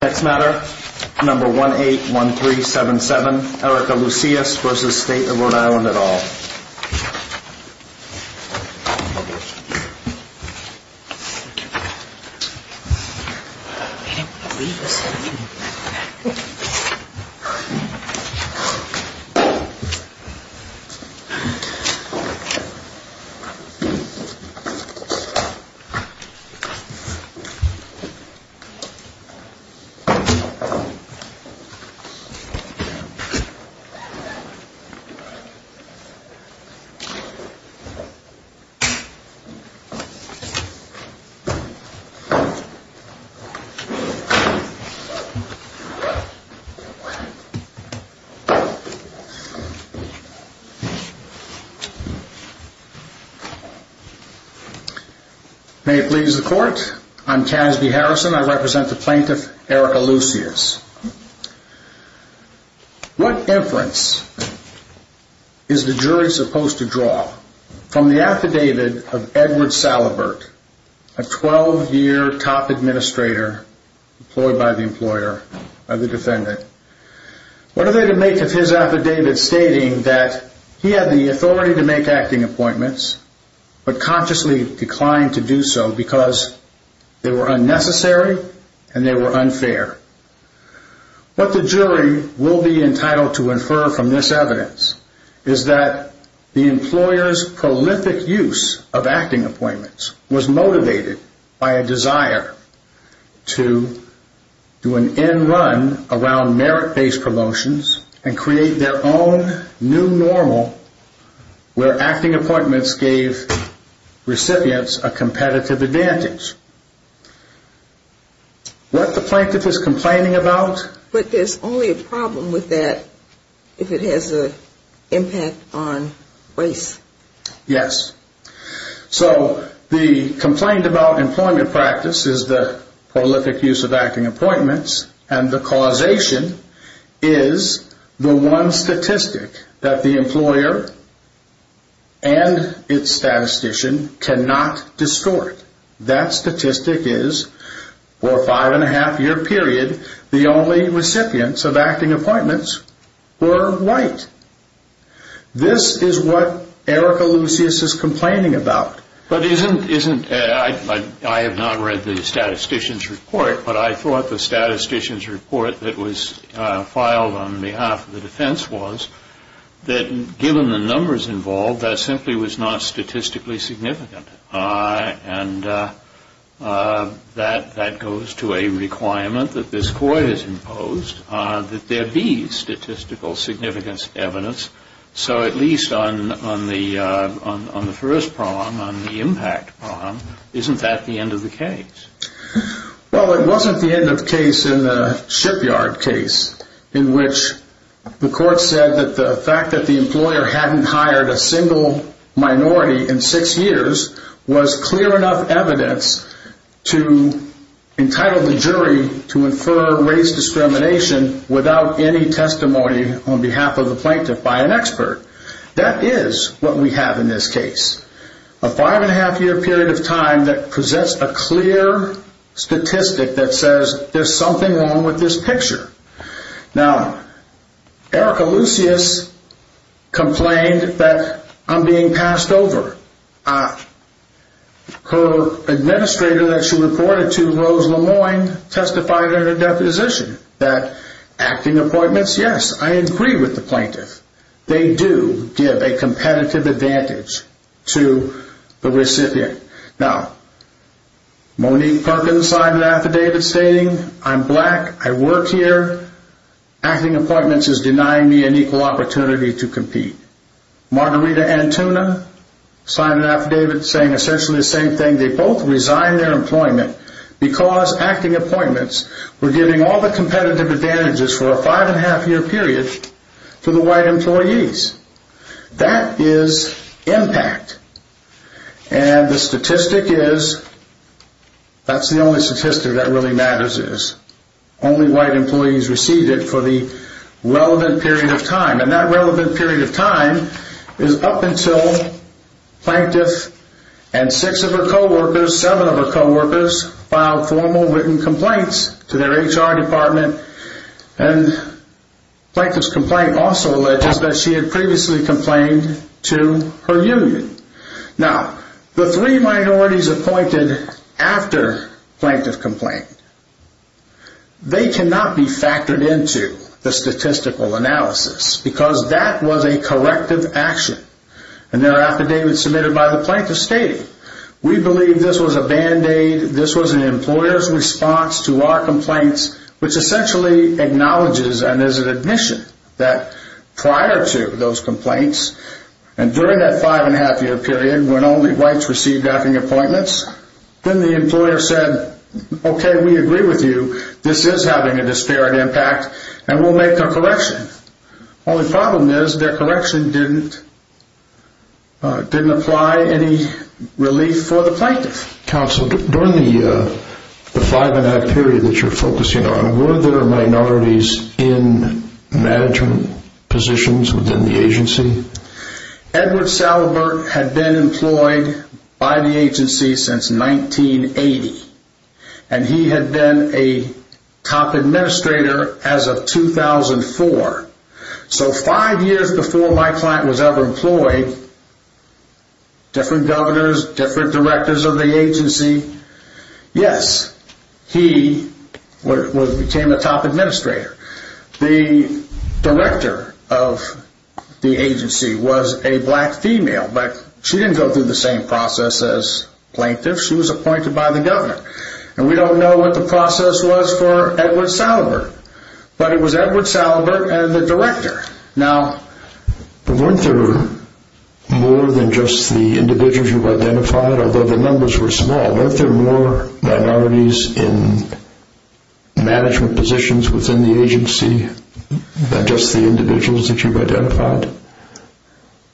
Next matter, number 181377, Erika Luceus v. State of Rhode Island et al. May it please the court, I'm Tasby Harrison, I represent the plaintiff, Erika Luceus v. State of Rhode Island. What inference is the jury supposed to draw from the affidavit of Edward Salibert, a 12-year top administrator employed by the defendant? What are they to make of his affidavit stating that he had the authority to make acting appointments but consciously declined to do so because they were unnecessary and unfair? What the jury will be entitled to infer from this evidence is that the employer's prolific use of acting appointments was motivated by a desire to do an end run around merit-based promotions and create their own new normal where acting appointments gave recipients a competitive advantage. What the plaintiff is complaining about? But there's only a problem with that if it has an impact on race. Yes. So the complaint about employment practice is the prolific use of acting appointments and the causation is the one statistic that the employer and its statistician cannot distort. That statistic is for a five and a half year period the only recipients of acting appointments were white. This is what Erika Luceus is complaining about. But isn't, I have not read the statistician's report, but I thought the statistician's report that was filed on behalf of the defense was that given the numbers involved that simply was not statistically significant. And that goes to a requirement that this court has imposed that there be statistical significance evidence. So at least on the first prong on the impact prong, isn't that the end of the case? Well it wasn't the end of the case in the shipyard case in which the court said that the fact that the employer hadn't hired a single minority in six years was clear enough evidence to entitle the jury to infer race discrimination without any testimony on behalf of the plaintiff by an expert. That is what we have in this case. A five and a half year period of time that presents a clear statistic that says there's something wrong with this picture. Now Erika Luceus complained that I'm being passed over. Her administrator that she reported to, Rose Lemoine, testified in her deposition that acting appointments, yes, I agree with the plaintiff. They do give a competitive advantage to the recipient. Now Monique Perkins signed an affidavit stating I'm black, I work here, acting appointments is denying me an equal opportunity to compete. Margarita Antuna signed an affidavit saying essentially the same thing. They both resigned their employment because acting appointments were giving all the competitive advantages for a five and a half year period to the white employees. That is impact. And the statistic is, that's the only statistic that really matters is, only white employees received it for the relevant period of time. And that relevant period of time is up until plaintiff and six of her co-workers, seven of her co-workers filed formal written complaints to their HR department and plaintiff's complaint also alleged that she had previously complained to her union. Now the three minorities appointed after plaintiff complaint, they cannot be factored into the statistical analysis because that was a corrective action. And their affidavit submitted by the plaintiff stating, we believe this was a band-aid, this was an employer's response to our complaints, which essentially acknowledges and is an admission that prior to those complaints and during that five and a half year period when only whites received acting appointments, then the employer said, okay we agree with you, this is having a disparate impact and we'll make a correction. Only problem is their correction didn't apply any relief for the plaintiff. Counsel, during the five and a half period that you're focusing on, were there minorities in management positions within the agency? Edward Salabur had been employed by the agency since 1980 and he had been a top administrator as of 2004. So five years before my client was ever employed, different governors, different directors of the agency, yes, he became a top administrator. The director of the agency was a black female, but she didn't go through the same process as plaintiff, she was appointed by the governor. And we don't know what the process was for Edward Salabur, but it was Edward Salabur and the director. Now, weren't there more than just the individuals you've identified, although the numbers were small, weren't there more minorities in management positions within the agency than just the individuals that you've identified?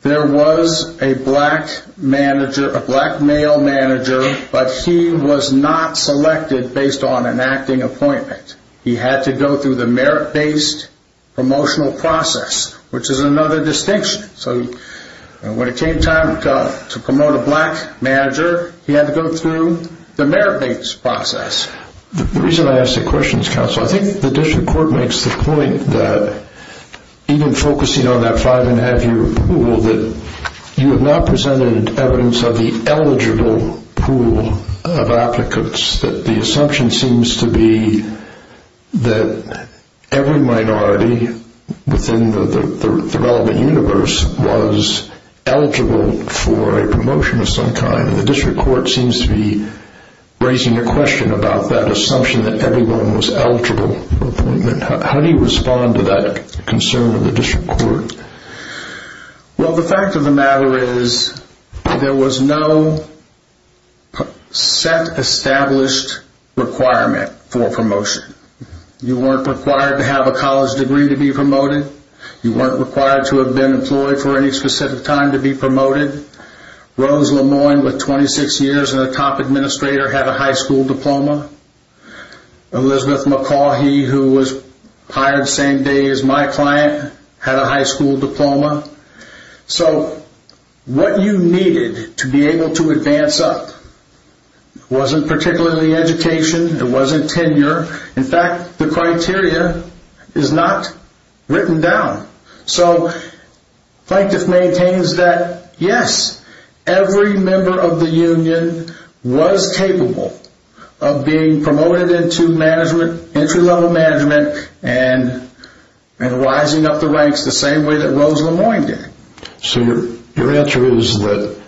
There was a black male manager, but he was not selected based on an acting appointment. He had to go through the merit-based promotional process, which is another distinction. So when it came time to promote a black manager, he had to go through the merit-based process. The reason I ask the question is, counsel, I think the district court makes the point that even focusing on that five-and-a-half-year pool, that you have not presented evidence of the eligible pool of applicants, that the assumption seems to be that every minority within the relevant universe was eligible for a promotion of some kind. And the district court seems to be raising a question about that assumption that everyone was eligible for an appointment. How do you respond to that concern of the district court? Well, the fact of the matter is, there was no set established requirement for promotion. You weren't required to have a college degree to be promoted. You weren't required to have been employed for any specific time to be promoted. Rose Lemoyne, with 26 years and a top administrator, had a high school diploma. Elizabeth McCaughey, who was hired the same day as my client, had a high school diploma. So what you needed to be able to advance up wasn't particularly education, it wasn't tenure. In fact, the criteria is not written down. So Plaintiff maintains that, yes, every member of the union was capable of being promoted into management, entry-level management, and rising up the ranks the same way that Rose Lemoyne did. So your answer is that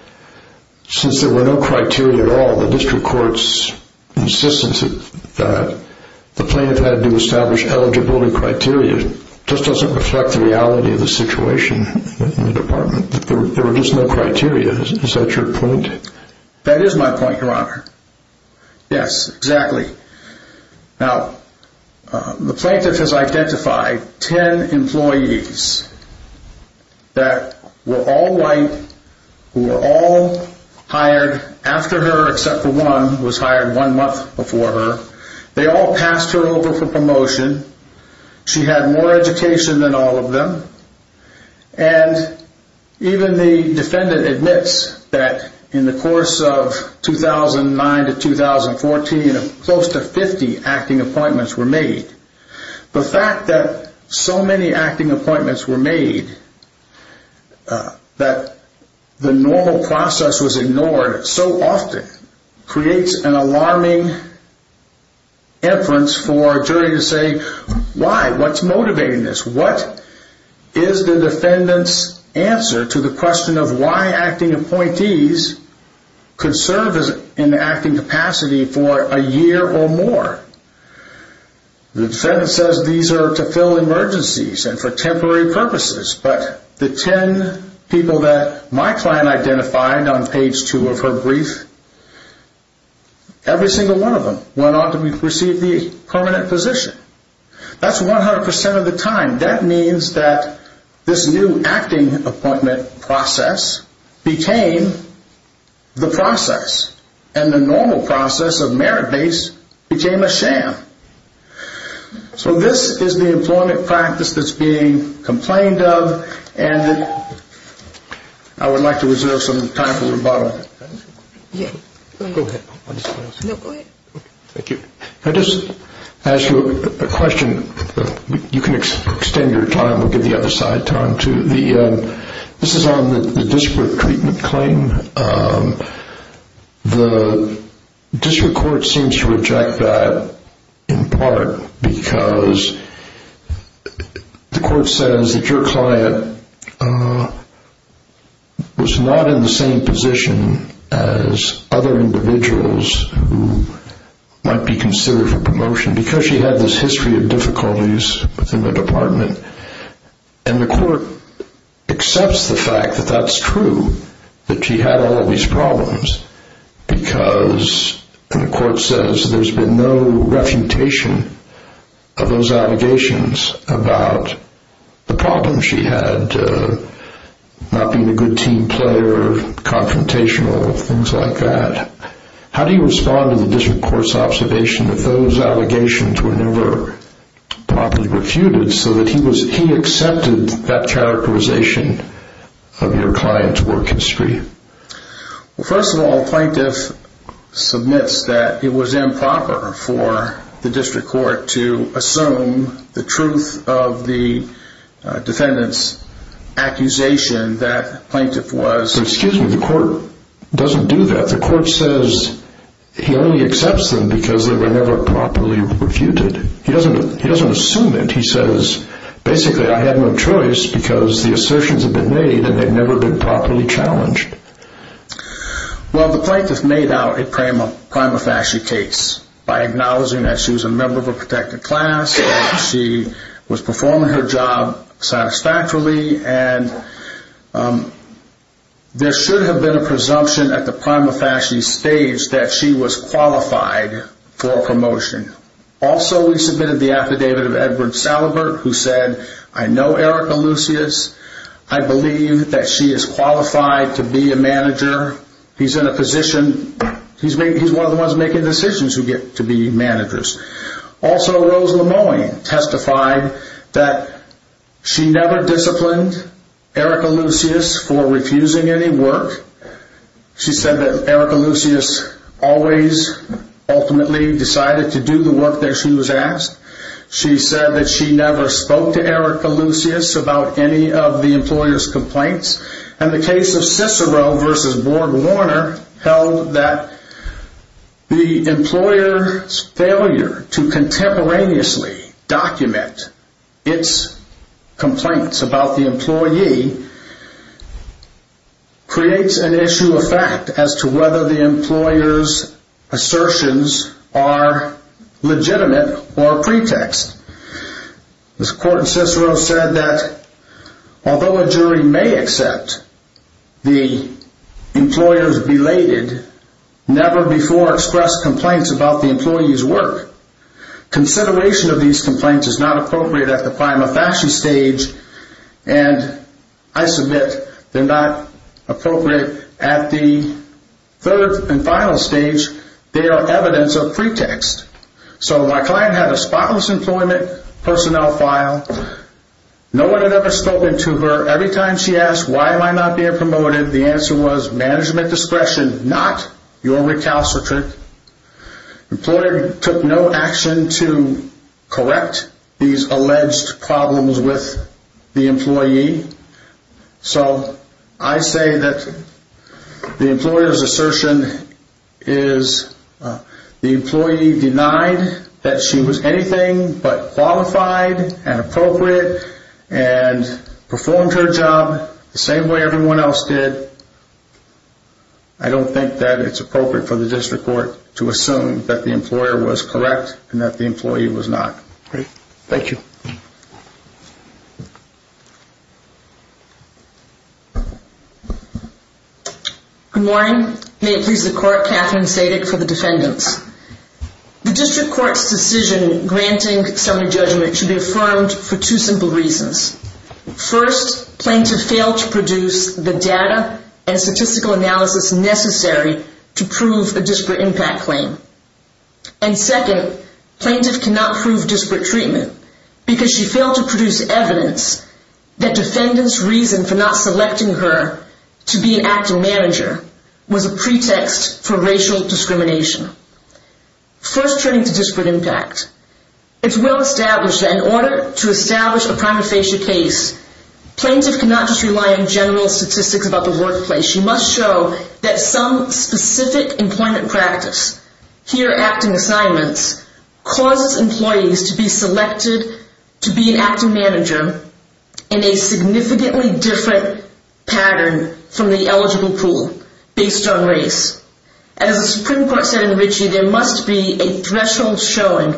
since there were no criteria at all, the district court's insistence that the plaintiff had to establish eligibility criteria just doesn't reflect the reality of the situation in the department. There were just no criteria. Is that your point? That is my point, Your Honor. Yes, exactly. Now, the plaintiff has identified ten employees that were all white, who were all hired after her except for one, who was hired one month before her. They all passed her over for promotion. She had more education than all of them. And even the defendant admits that in the course of 2009 to 2014, close to 50 acting appointments were made. The fact that so many acting appointments were made, that the normal process was ignored so often, creates an alarming inference for a jury to say, why? What's motivating this? What is the defendant's answer to the question of why acting appointees could serve in the acting capacity for a year or more? The defendant says these are to fill emergencies and for temporary purposes, but the ten people that my client identified on page 2 of her brief, every single one of them went on to receive the permanent position. That's 100% of the time. That means that this new acting appointment process became the process, and the normal process of merit-based became a sham. So this is the employment practice that's being complained of, and it's a shame that I would like to reserve some time for rebuttal. I'll just ask you a question. You can extend your time or give the other side time, too. This is on the district treatment claim. The district court seems to reject that in part because the court says that your client was not in the same position as other individuals who might be considered for promotion, because she had this history of difficulties within the department, and the court accepts the fact that that's true, that she had all of these problems, because the court says there's been no refutation of those allegations about the problems she had, not being a good team player, confrontational, things like that. How do you respond to the district court's observation that those allegations were never properly refuted so that he accepted that characterization of your client's work history? First of all, the plaintiff submits that it was improper for the district court to assume the truth of the defendant's accusation that the plaintiff was... But excuse me, the court doesn't do that. The court says he only accepts them because they were never properly refuted. He doesn't assume it. He says, basically, I had no choice because the assertions had been made and they'd never been properly challenged. Well, the plaintiff made out a prima facie case by acknowledging that she was a member of a protected class, that she was performing her job satisfactorily, and there should have been a presumption at the prima facie stage that she was qualified for promotion. Also we submitted the affidavit of Edward Salabert, who said, I know Erica Lucius. I believe that she is qualified to be a manager. He's in a position... He's one of the ones making decisions who get to be managers. Also, Rose Lemoine testified that she never disciplined Erica Lucius for refusing any work. She said that Erica Lucius always, ultimately, decided to do the work that she was asked. She said that she never spoke to Erica Lucius about any of the employer's complaints. In the case of Cicero v. Borg Warner, held that the employer's failure to contemporaneously document its complaints about the employee creates an issue of fact as to whether the employer's assertions are legitimate or a pretext. This court in Cicero said that although a jury may accept the employer's belated, never before expressed complaints about the employee's work. Consideration of these complaints is not appropriate at the prima facie stage, and I submit they're not appropriate at the third and final stage. They are evidence of pretext. So, my client had a spotless employment personnel file. No one had ever spoken to her. Every time she asked, why am I not being promoted, the answer was, management discretion, not your recalcitrant. The employer took no action to correct these alleged problems with the employee. So, I say that the employer assertion is the employee denied that she was anything but qualified and appropriate and performed her job the same way everyone else did. I don't think that it's appropriate for the district court to assume that the employer was correct and that the employee was not. Thank you. Good morning. May it please the court, Katherine Sadick for the defendants. The district court's decision granting summary judgment should be affirmed for two simple reasons. First, plaintiff failed to produce the data and statistical analysis necessary to prove a disparate impact claim. And second, plaintiff cannot prove disparate treatment because she failed to produce evidence that defendant's reason for not selecting her to be an acting manager was a pretext for racial discrimination. First, turning to disparate impact, it's well established that in order to establish a prima facie case, plaintiff cannot just rely on general statistics about the workplace. She must show that some specific employment practice, here acting assignments, causes employees to be selected to be an acting manager in a significantly different pattern from the eligible pool based on race. As the Supreme Court said in Ritchie, there must be a threshold showing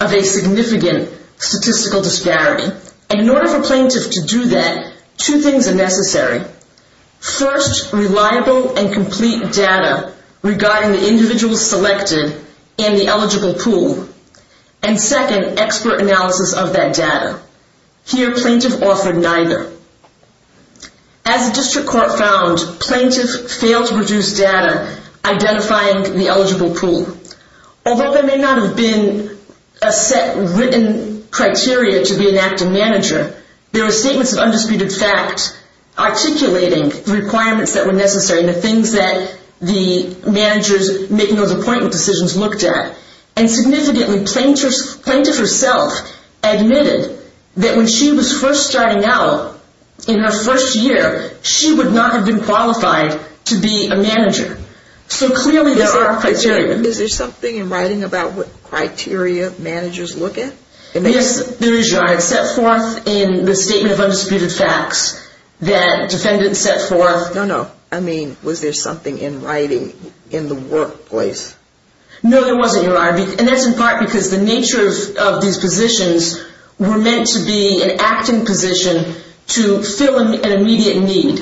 of a significant statistical disparity. And in order for plaintiff to do that, two things are necessary. First, reliable and complete data regarding the individual selected in the eligible pool. And second, expert analysis of that data. Here, plaintiff offered neither. As the district court found, plaintiff failed to produce data identifying the eligible pool. Although there may not have been a set written criteria to be an acting manager, there were statements of undisputed fact articulating the requirements that were necessary and the things that the managers making those appointment decisions looked at. And significantly, plaintiff herself admitted that when she was first starting out in her first year, she would not have been qualified to be a manager. So clearly there are criteria. Is there something in writing about what criteria managers look at? Yes, there is, Your Honor. It's set forth in the statement of undisputed facts that defendants set forth. No, no. I mean, was there something in writing in the workplace? No, there wasn't, Your Honor. And that's in part because the nature of these positions were meant to be an acting position to fill an immediate need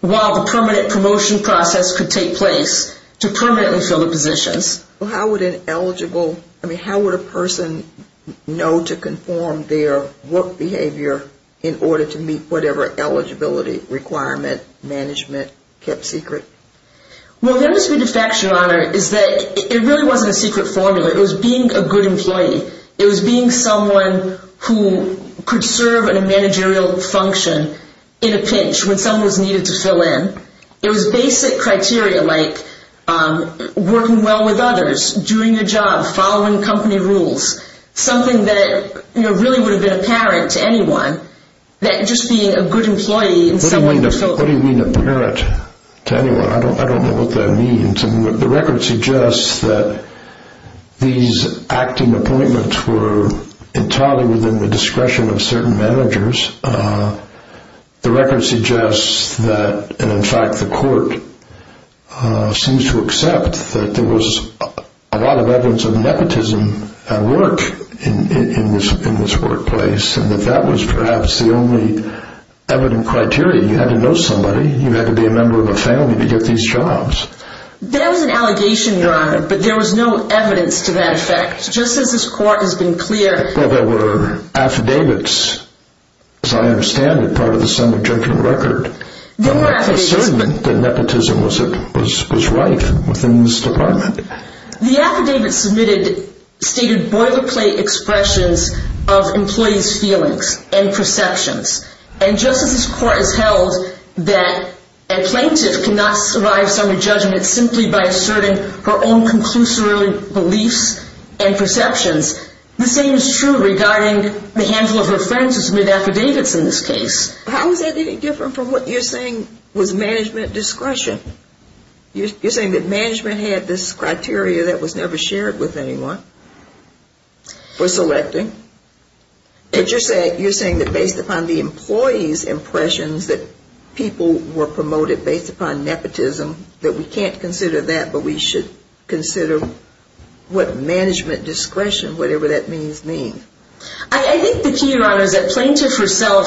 while the permanent promotion process could take place to permanently fill the positions. How would an eligible, I mean, how would a person know to conform their work behavior in order to meet whatever eligibility requirement management kept secret? Well, the undisputed fact, Your Honor, is that it really wasn't a secret formula. It was being a good employee. It was being someone who could serve in a managerial function in a pinch when someone was needed to fill in. It was basic criteria like working well with others, doing your job, following company rules, something that really would have been apparent to anyone, that just being a good employee and someone who could fill in. What do you mean apparent to anyone? I don't know what that means. The record suggests that these acting appointments were entirely within the discretion of certain managers. The record suggests that, and in fact the court seems to accept, that there was a lot of evidence of nepotism at work in this workplace and that that was perhaps the only evident criteria. You had to know somebody. You had to be a member of a family to get these jobs. There was an allegation, Your Honor, but there was no evidence to that effect. Just as this is, as I understand it, part of the summary judgment record, the assertion that nepotism was right within this department. The affidavit submitted stated boilerplate expressions of employees' feelings and perceptions. And just as this court has held that a plaintiff cannot survive summary judgment simply by asserting her own conclusory beliefs and perceptions, the same is true regarding the handful of offenses with affidavits in this case. How is that any different from what you're saying was management discretion? You're saying that management had this criteria that was never shared with anyone for selecting. But you're saying that based upon the employees' impressions that people were promoted based upon nepotism, that we can't consider that but we should consider what management discretion whatever that means, mean. I think the key, Your Honor, is that plaintiff herself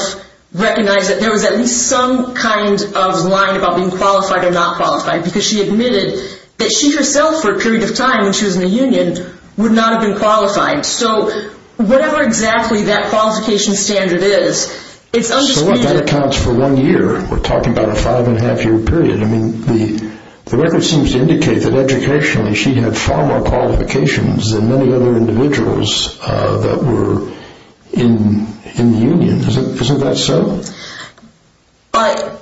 recognized that there was at least some kind of line about being qualified or not qualified because she admitted that she herself for a period of time when she was in the union would not have been qualified. So whatever exactly that qualification standard is, it's undisputed. So what, that accounts for one year. We're talking about a five and a half year period. I mean, the record seems to indicate that educationally she had far more qualifications than many other individuals that were in the union. Isn't that so?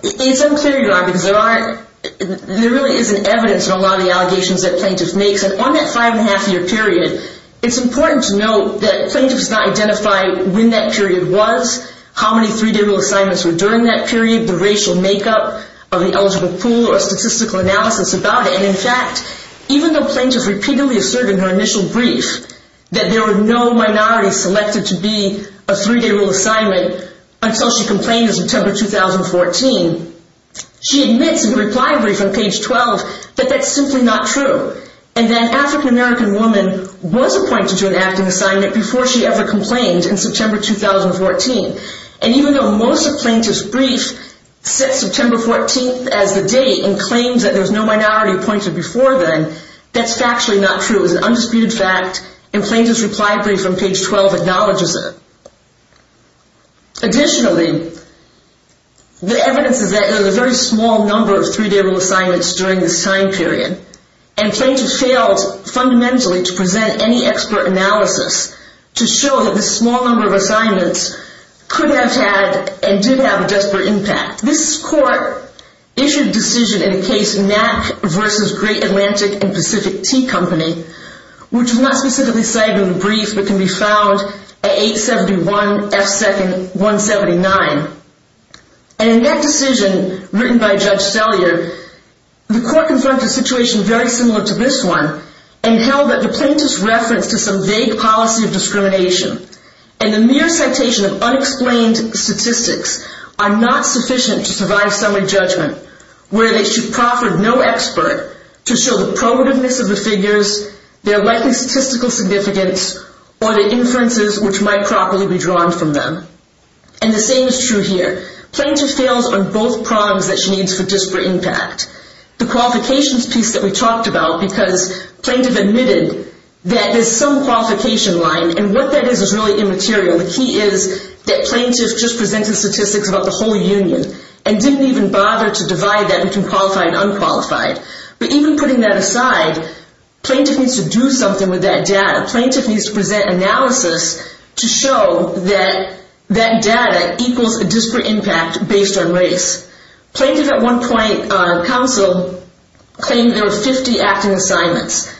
It's unclear, Your Honor, because there really isn't evidence in a lot of the allegations that plaintiff makes. And on that five and a half year period, it's important to note that plaintiff does not identify when that period was, how many three-day rule assignments were during that period, the racial makeup of the eligible pool or statistical analysis about it. And in fact, even though plaintiff repeatedly asserted in her initial brief that there were no minorities selected to be a three-day rule assignment until she complained in September 2014, she admits in the reply brief on page 12 that that's simply not true. And that an African American woman was appointed to an acting assignment before she ever complained in September 2014. And even though most of plaintiff's brief sets September 14th as the date and claims that there was no minority appointed before then, that's factually not true. It was an undisputed fact, and plaintiff's reply brief on page 12 acknowledges it. Additionally, the evidence is that there was a very small number of three-day rule assignments during this time period, and plaintiff failed fundamentally to present any expert analysis to show that this small number of assignments could have had and did have a desperate impact. This court issued a decision in the case Knack v. Great Atlantic & Pacific Tea Company, which was not specifically cited in the brief, but can be found at 871 F. 2nd 179. And in that decision, written by Judge Sellier, the court confronted a situation very similar to this one, and held that the plaintiff's reference to some vague policy of discrimination and the mere citation of unexplained statistics are not sufficient to survive summary judgment, where they should proffer no expert to show the probativeness of the figures, their likely statistical significance, or the inferences which might properly be drawn from them. And the same is true here. Plaintiff fails on both prongs that she needs for disparate impact. The qualifications piece that we talked about, because plaintiff admitted that there's some qualification line, and what that is is really immaterial. The key is that plaintiff just presented statistics about the whole union, and didn't even bother to divide that between qualified and unqualified. But even putting that aside, plaintiff needs to do something with that data. Plaintiff needs to present analysis to show that that data equals a disparate impact based on race. Plaintiff at one point, counsel, claimed there were 50 acting assignments.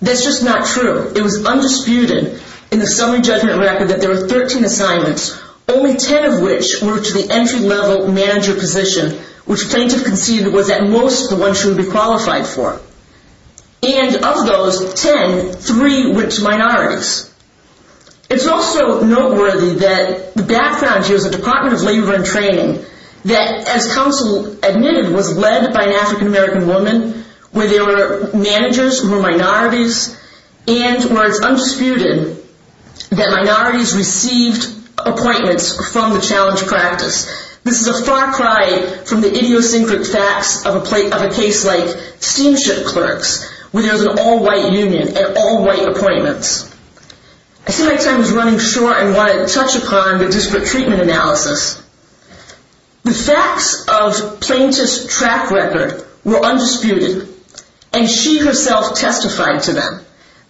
That's just not true. It was undisputed in the summary judgment record that there were 13 assignments, only 10 of which were to the entry level manager position, which plaintiff conceded was at most the one she would be qualified for. And of those 10, three went to minorities. It's also noteworthy that the background here is the Department of Labor and Training, that as counsel admitted, was led by an African American woman, where there were managers who were minorities, and where it's undisputed that minorities received appointments from the challenge practice. This is a far cry from the idiosyncratic facts of a case like Steamship Clerks, where there was an all-white union and all-white appointments. I see my time is running short, and I want to touch upon the disparate treatment analysis. The facts of plaintiff's track record were undisputed, and she herself testified to them.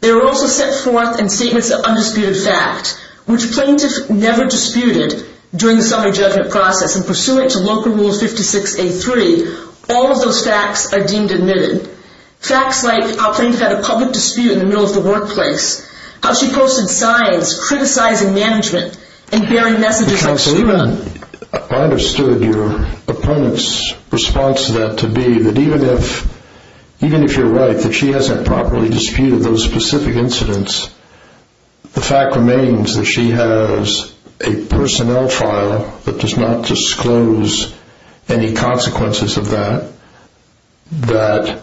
They were also set forth in statements of undisputed fact, which plaintiff never disputed during the summary judgment process, and pursuant to Local Rule 56A3, all of those facts are deemed admitted. Facts like how plaintiff had a public dispute in the middle of the workplace, how she posted signs criticizing management, and bearing messages like... Counsel, even if I understood your opponent's response to that to be that even if you're right, that she hasn't properly disputed those specific incidents, the fact remains that she has a personnel trial that does not disclose any consequences of that, that,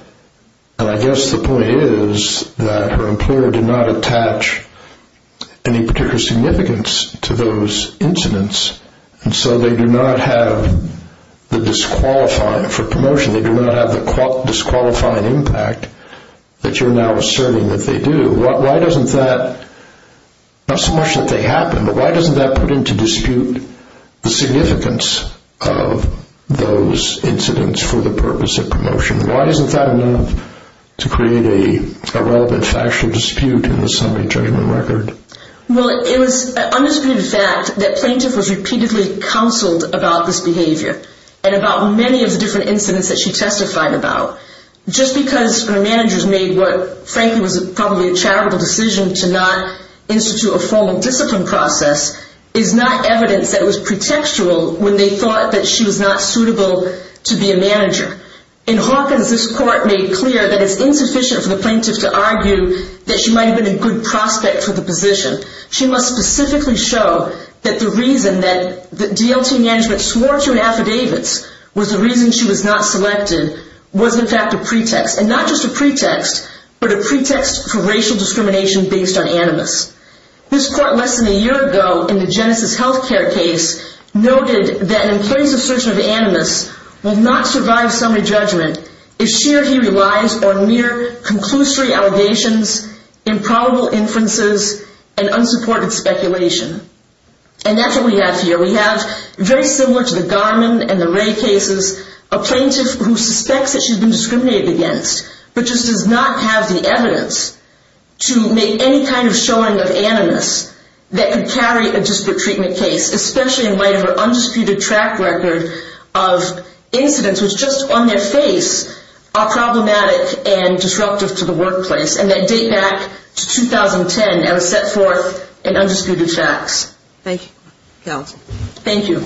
and I guess the point is that her employer did not attach any particular significance to those incidents, and so they do not have the disqualifying for promotion, they do not have the disqualifying impact that you're now asserting that they do. Why doesn't that, not so much that they happen, but why doesn't that put into dispute the significance of those incidents for the plaintiff to create a relevant factual dispute in the summary judgment record? Well, it was an undisputed fact that plaintiff was repeatedly counseled about this behavior, and about many of the different incidents that she testified about. Just because her managers made what frankly was probably a charitable decision to not institute a formal discipline process is not evidence that was pretextual when they thought that she was not suitable to be a manager. In Hawkins, this court made clear that it's insufficient for the plaintiff to argue that she might have been a good prospect for the position. She must specifically show that the reason that the DLT management swore to in affidavits was the reason she was not selected was in fact a pretext, and not just a pretext, but a pretext for racial discrimination based on animus. This court less than a year ago in the Genesis Healthcare case noted that in place of search of animus will not survive summary judgment if she or he relies on mere conclusory allegations, improbable inferences, and unsupported speculation. And that's what we have here. We have very similar to the Garman and the Ray cases, a plaintiff who suspects that she's been discriminated against, but just does not have the evidence to make any kind of showing of animus that could carry a disparate treatment case, especially in light of her undisputed track record of incidents which just on their face are problematic and disruptive to the workplace, and that date back to 2010 and was set forth in undisputed facts. Thank you.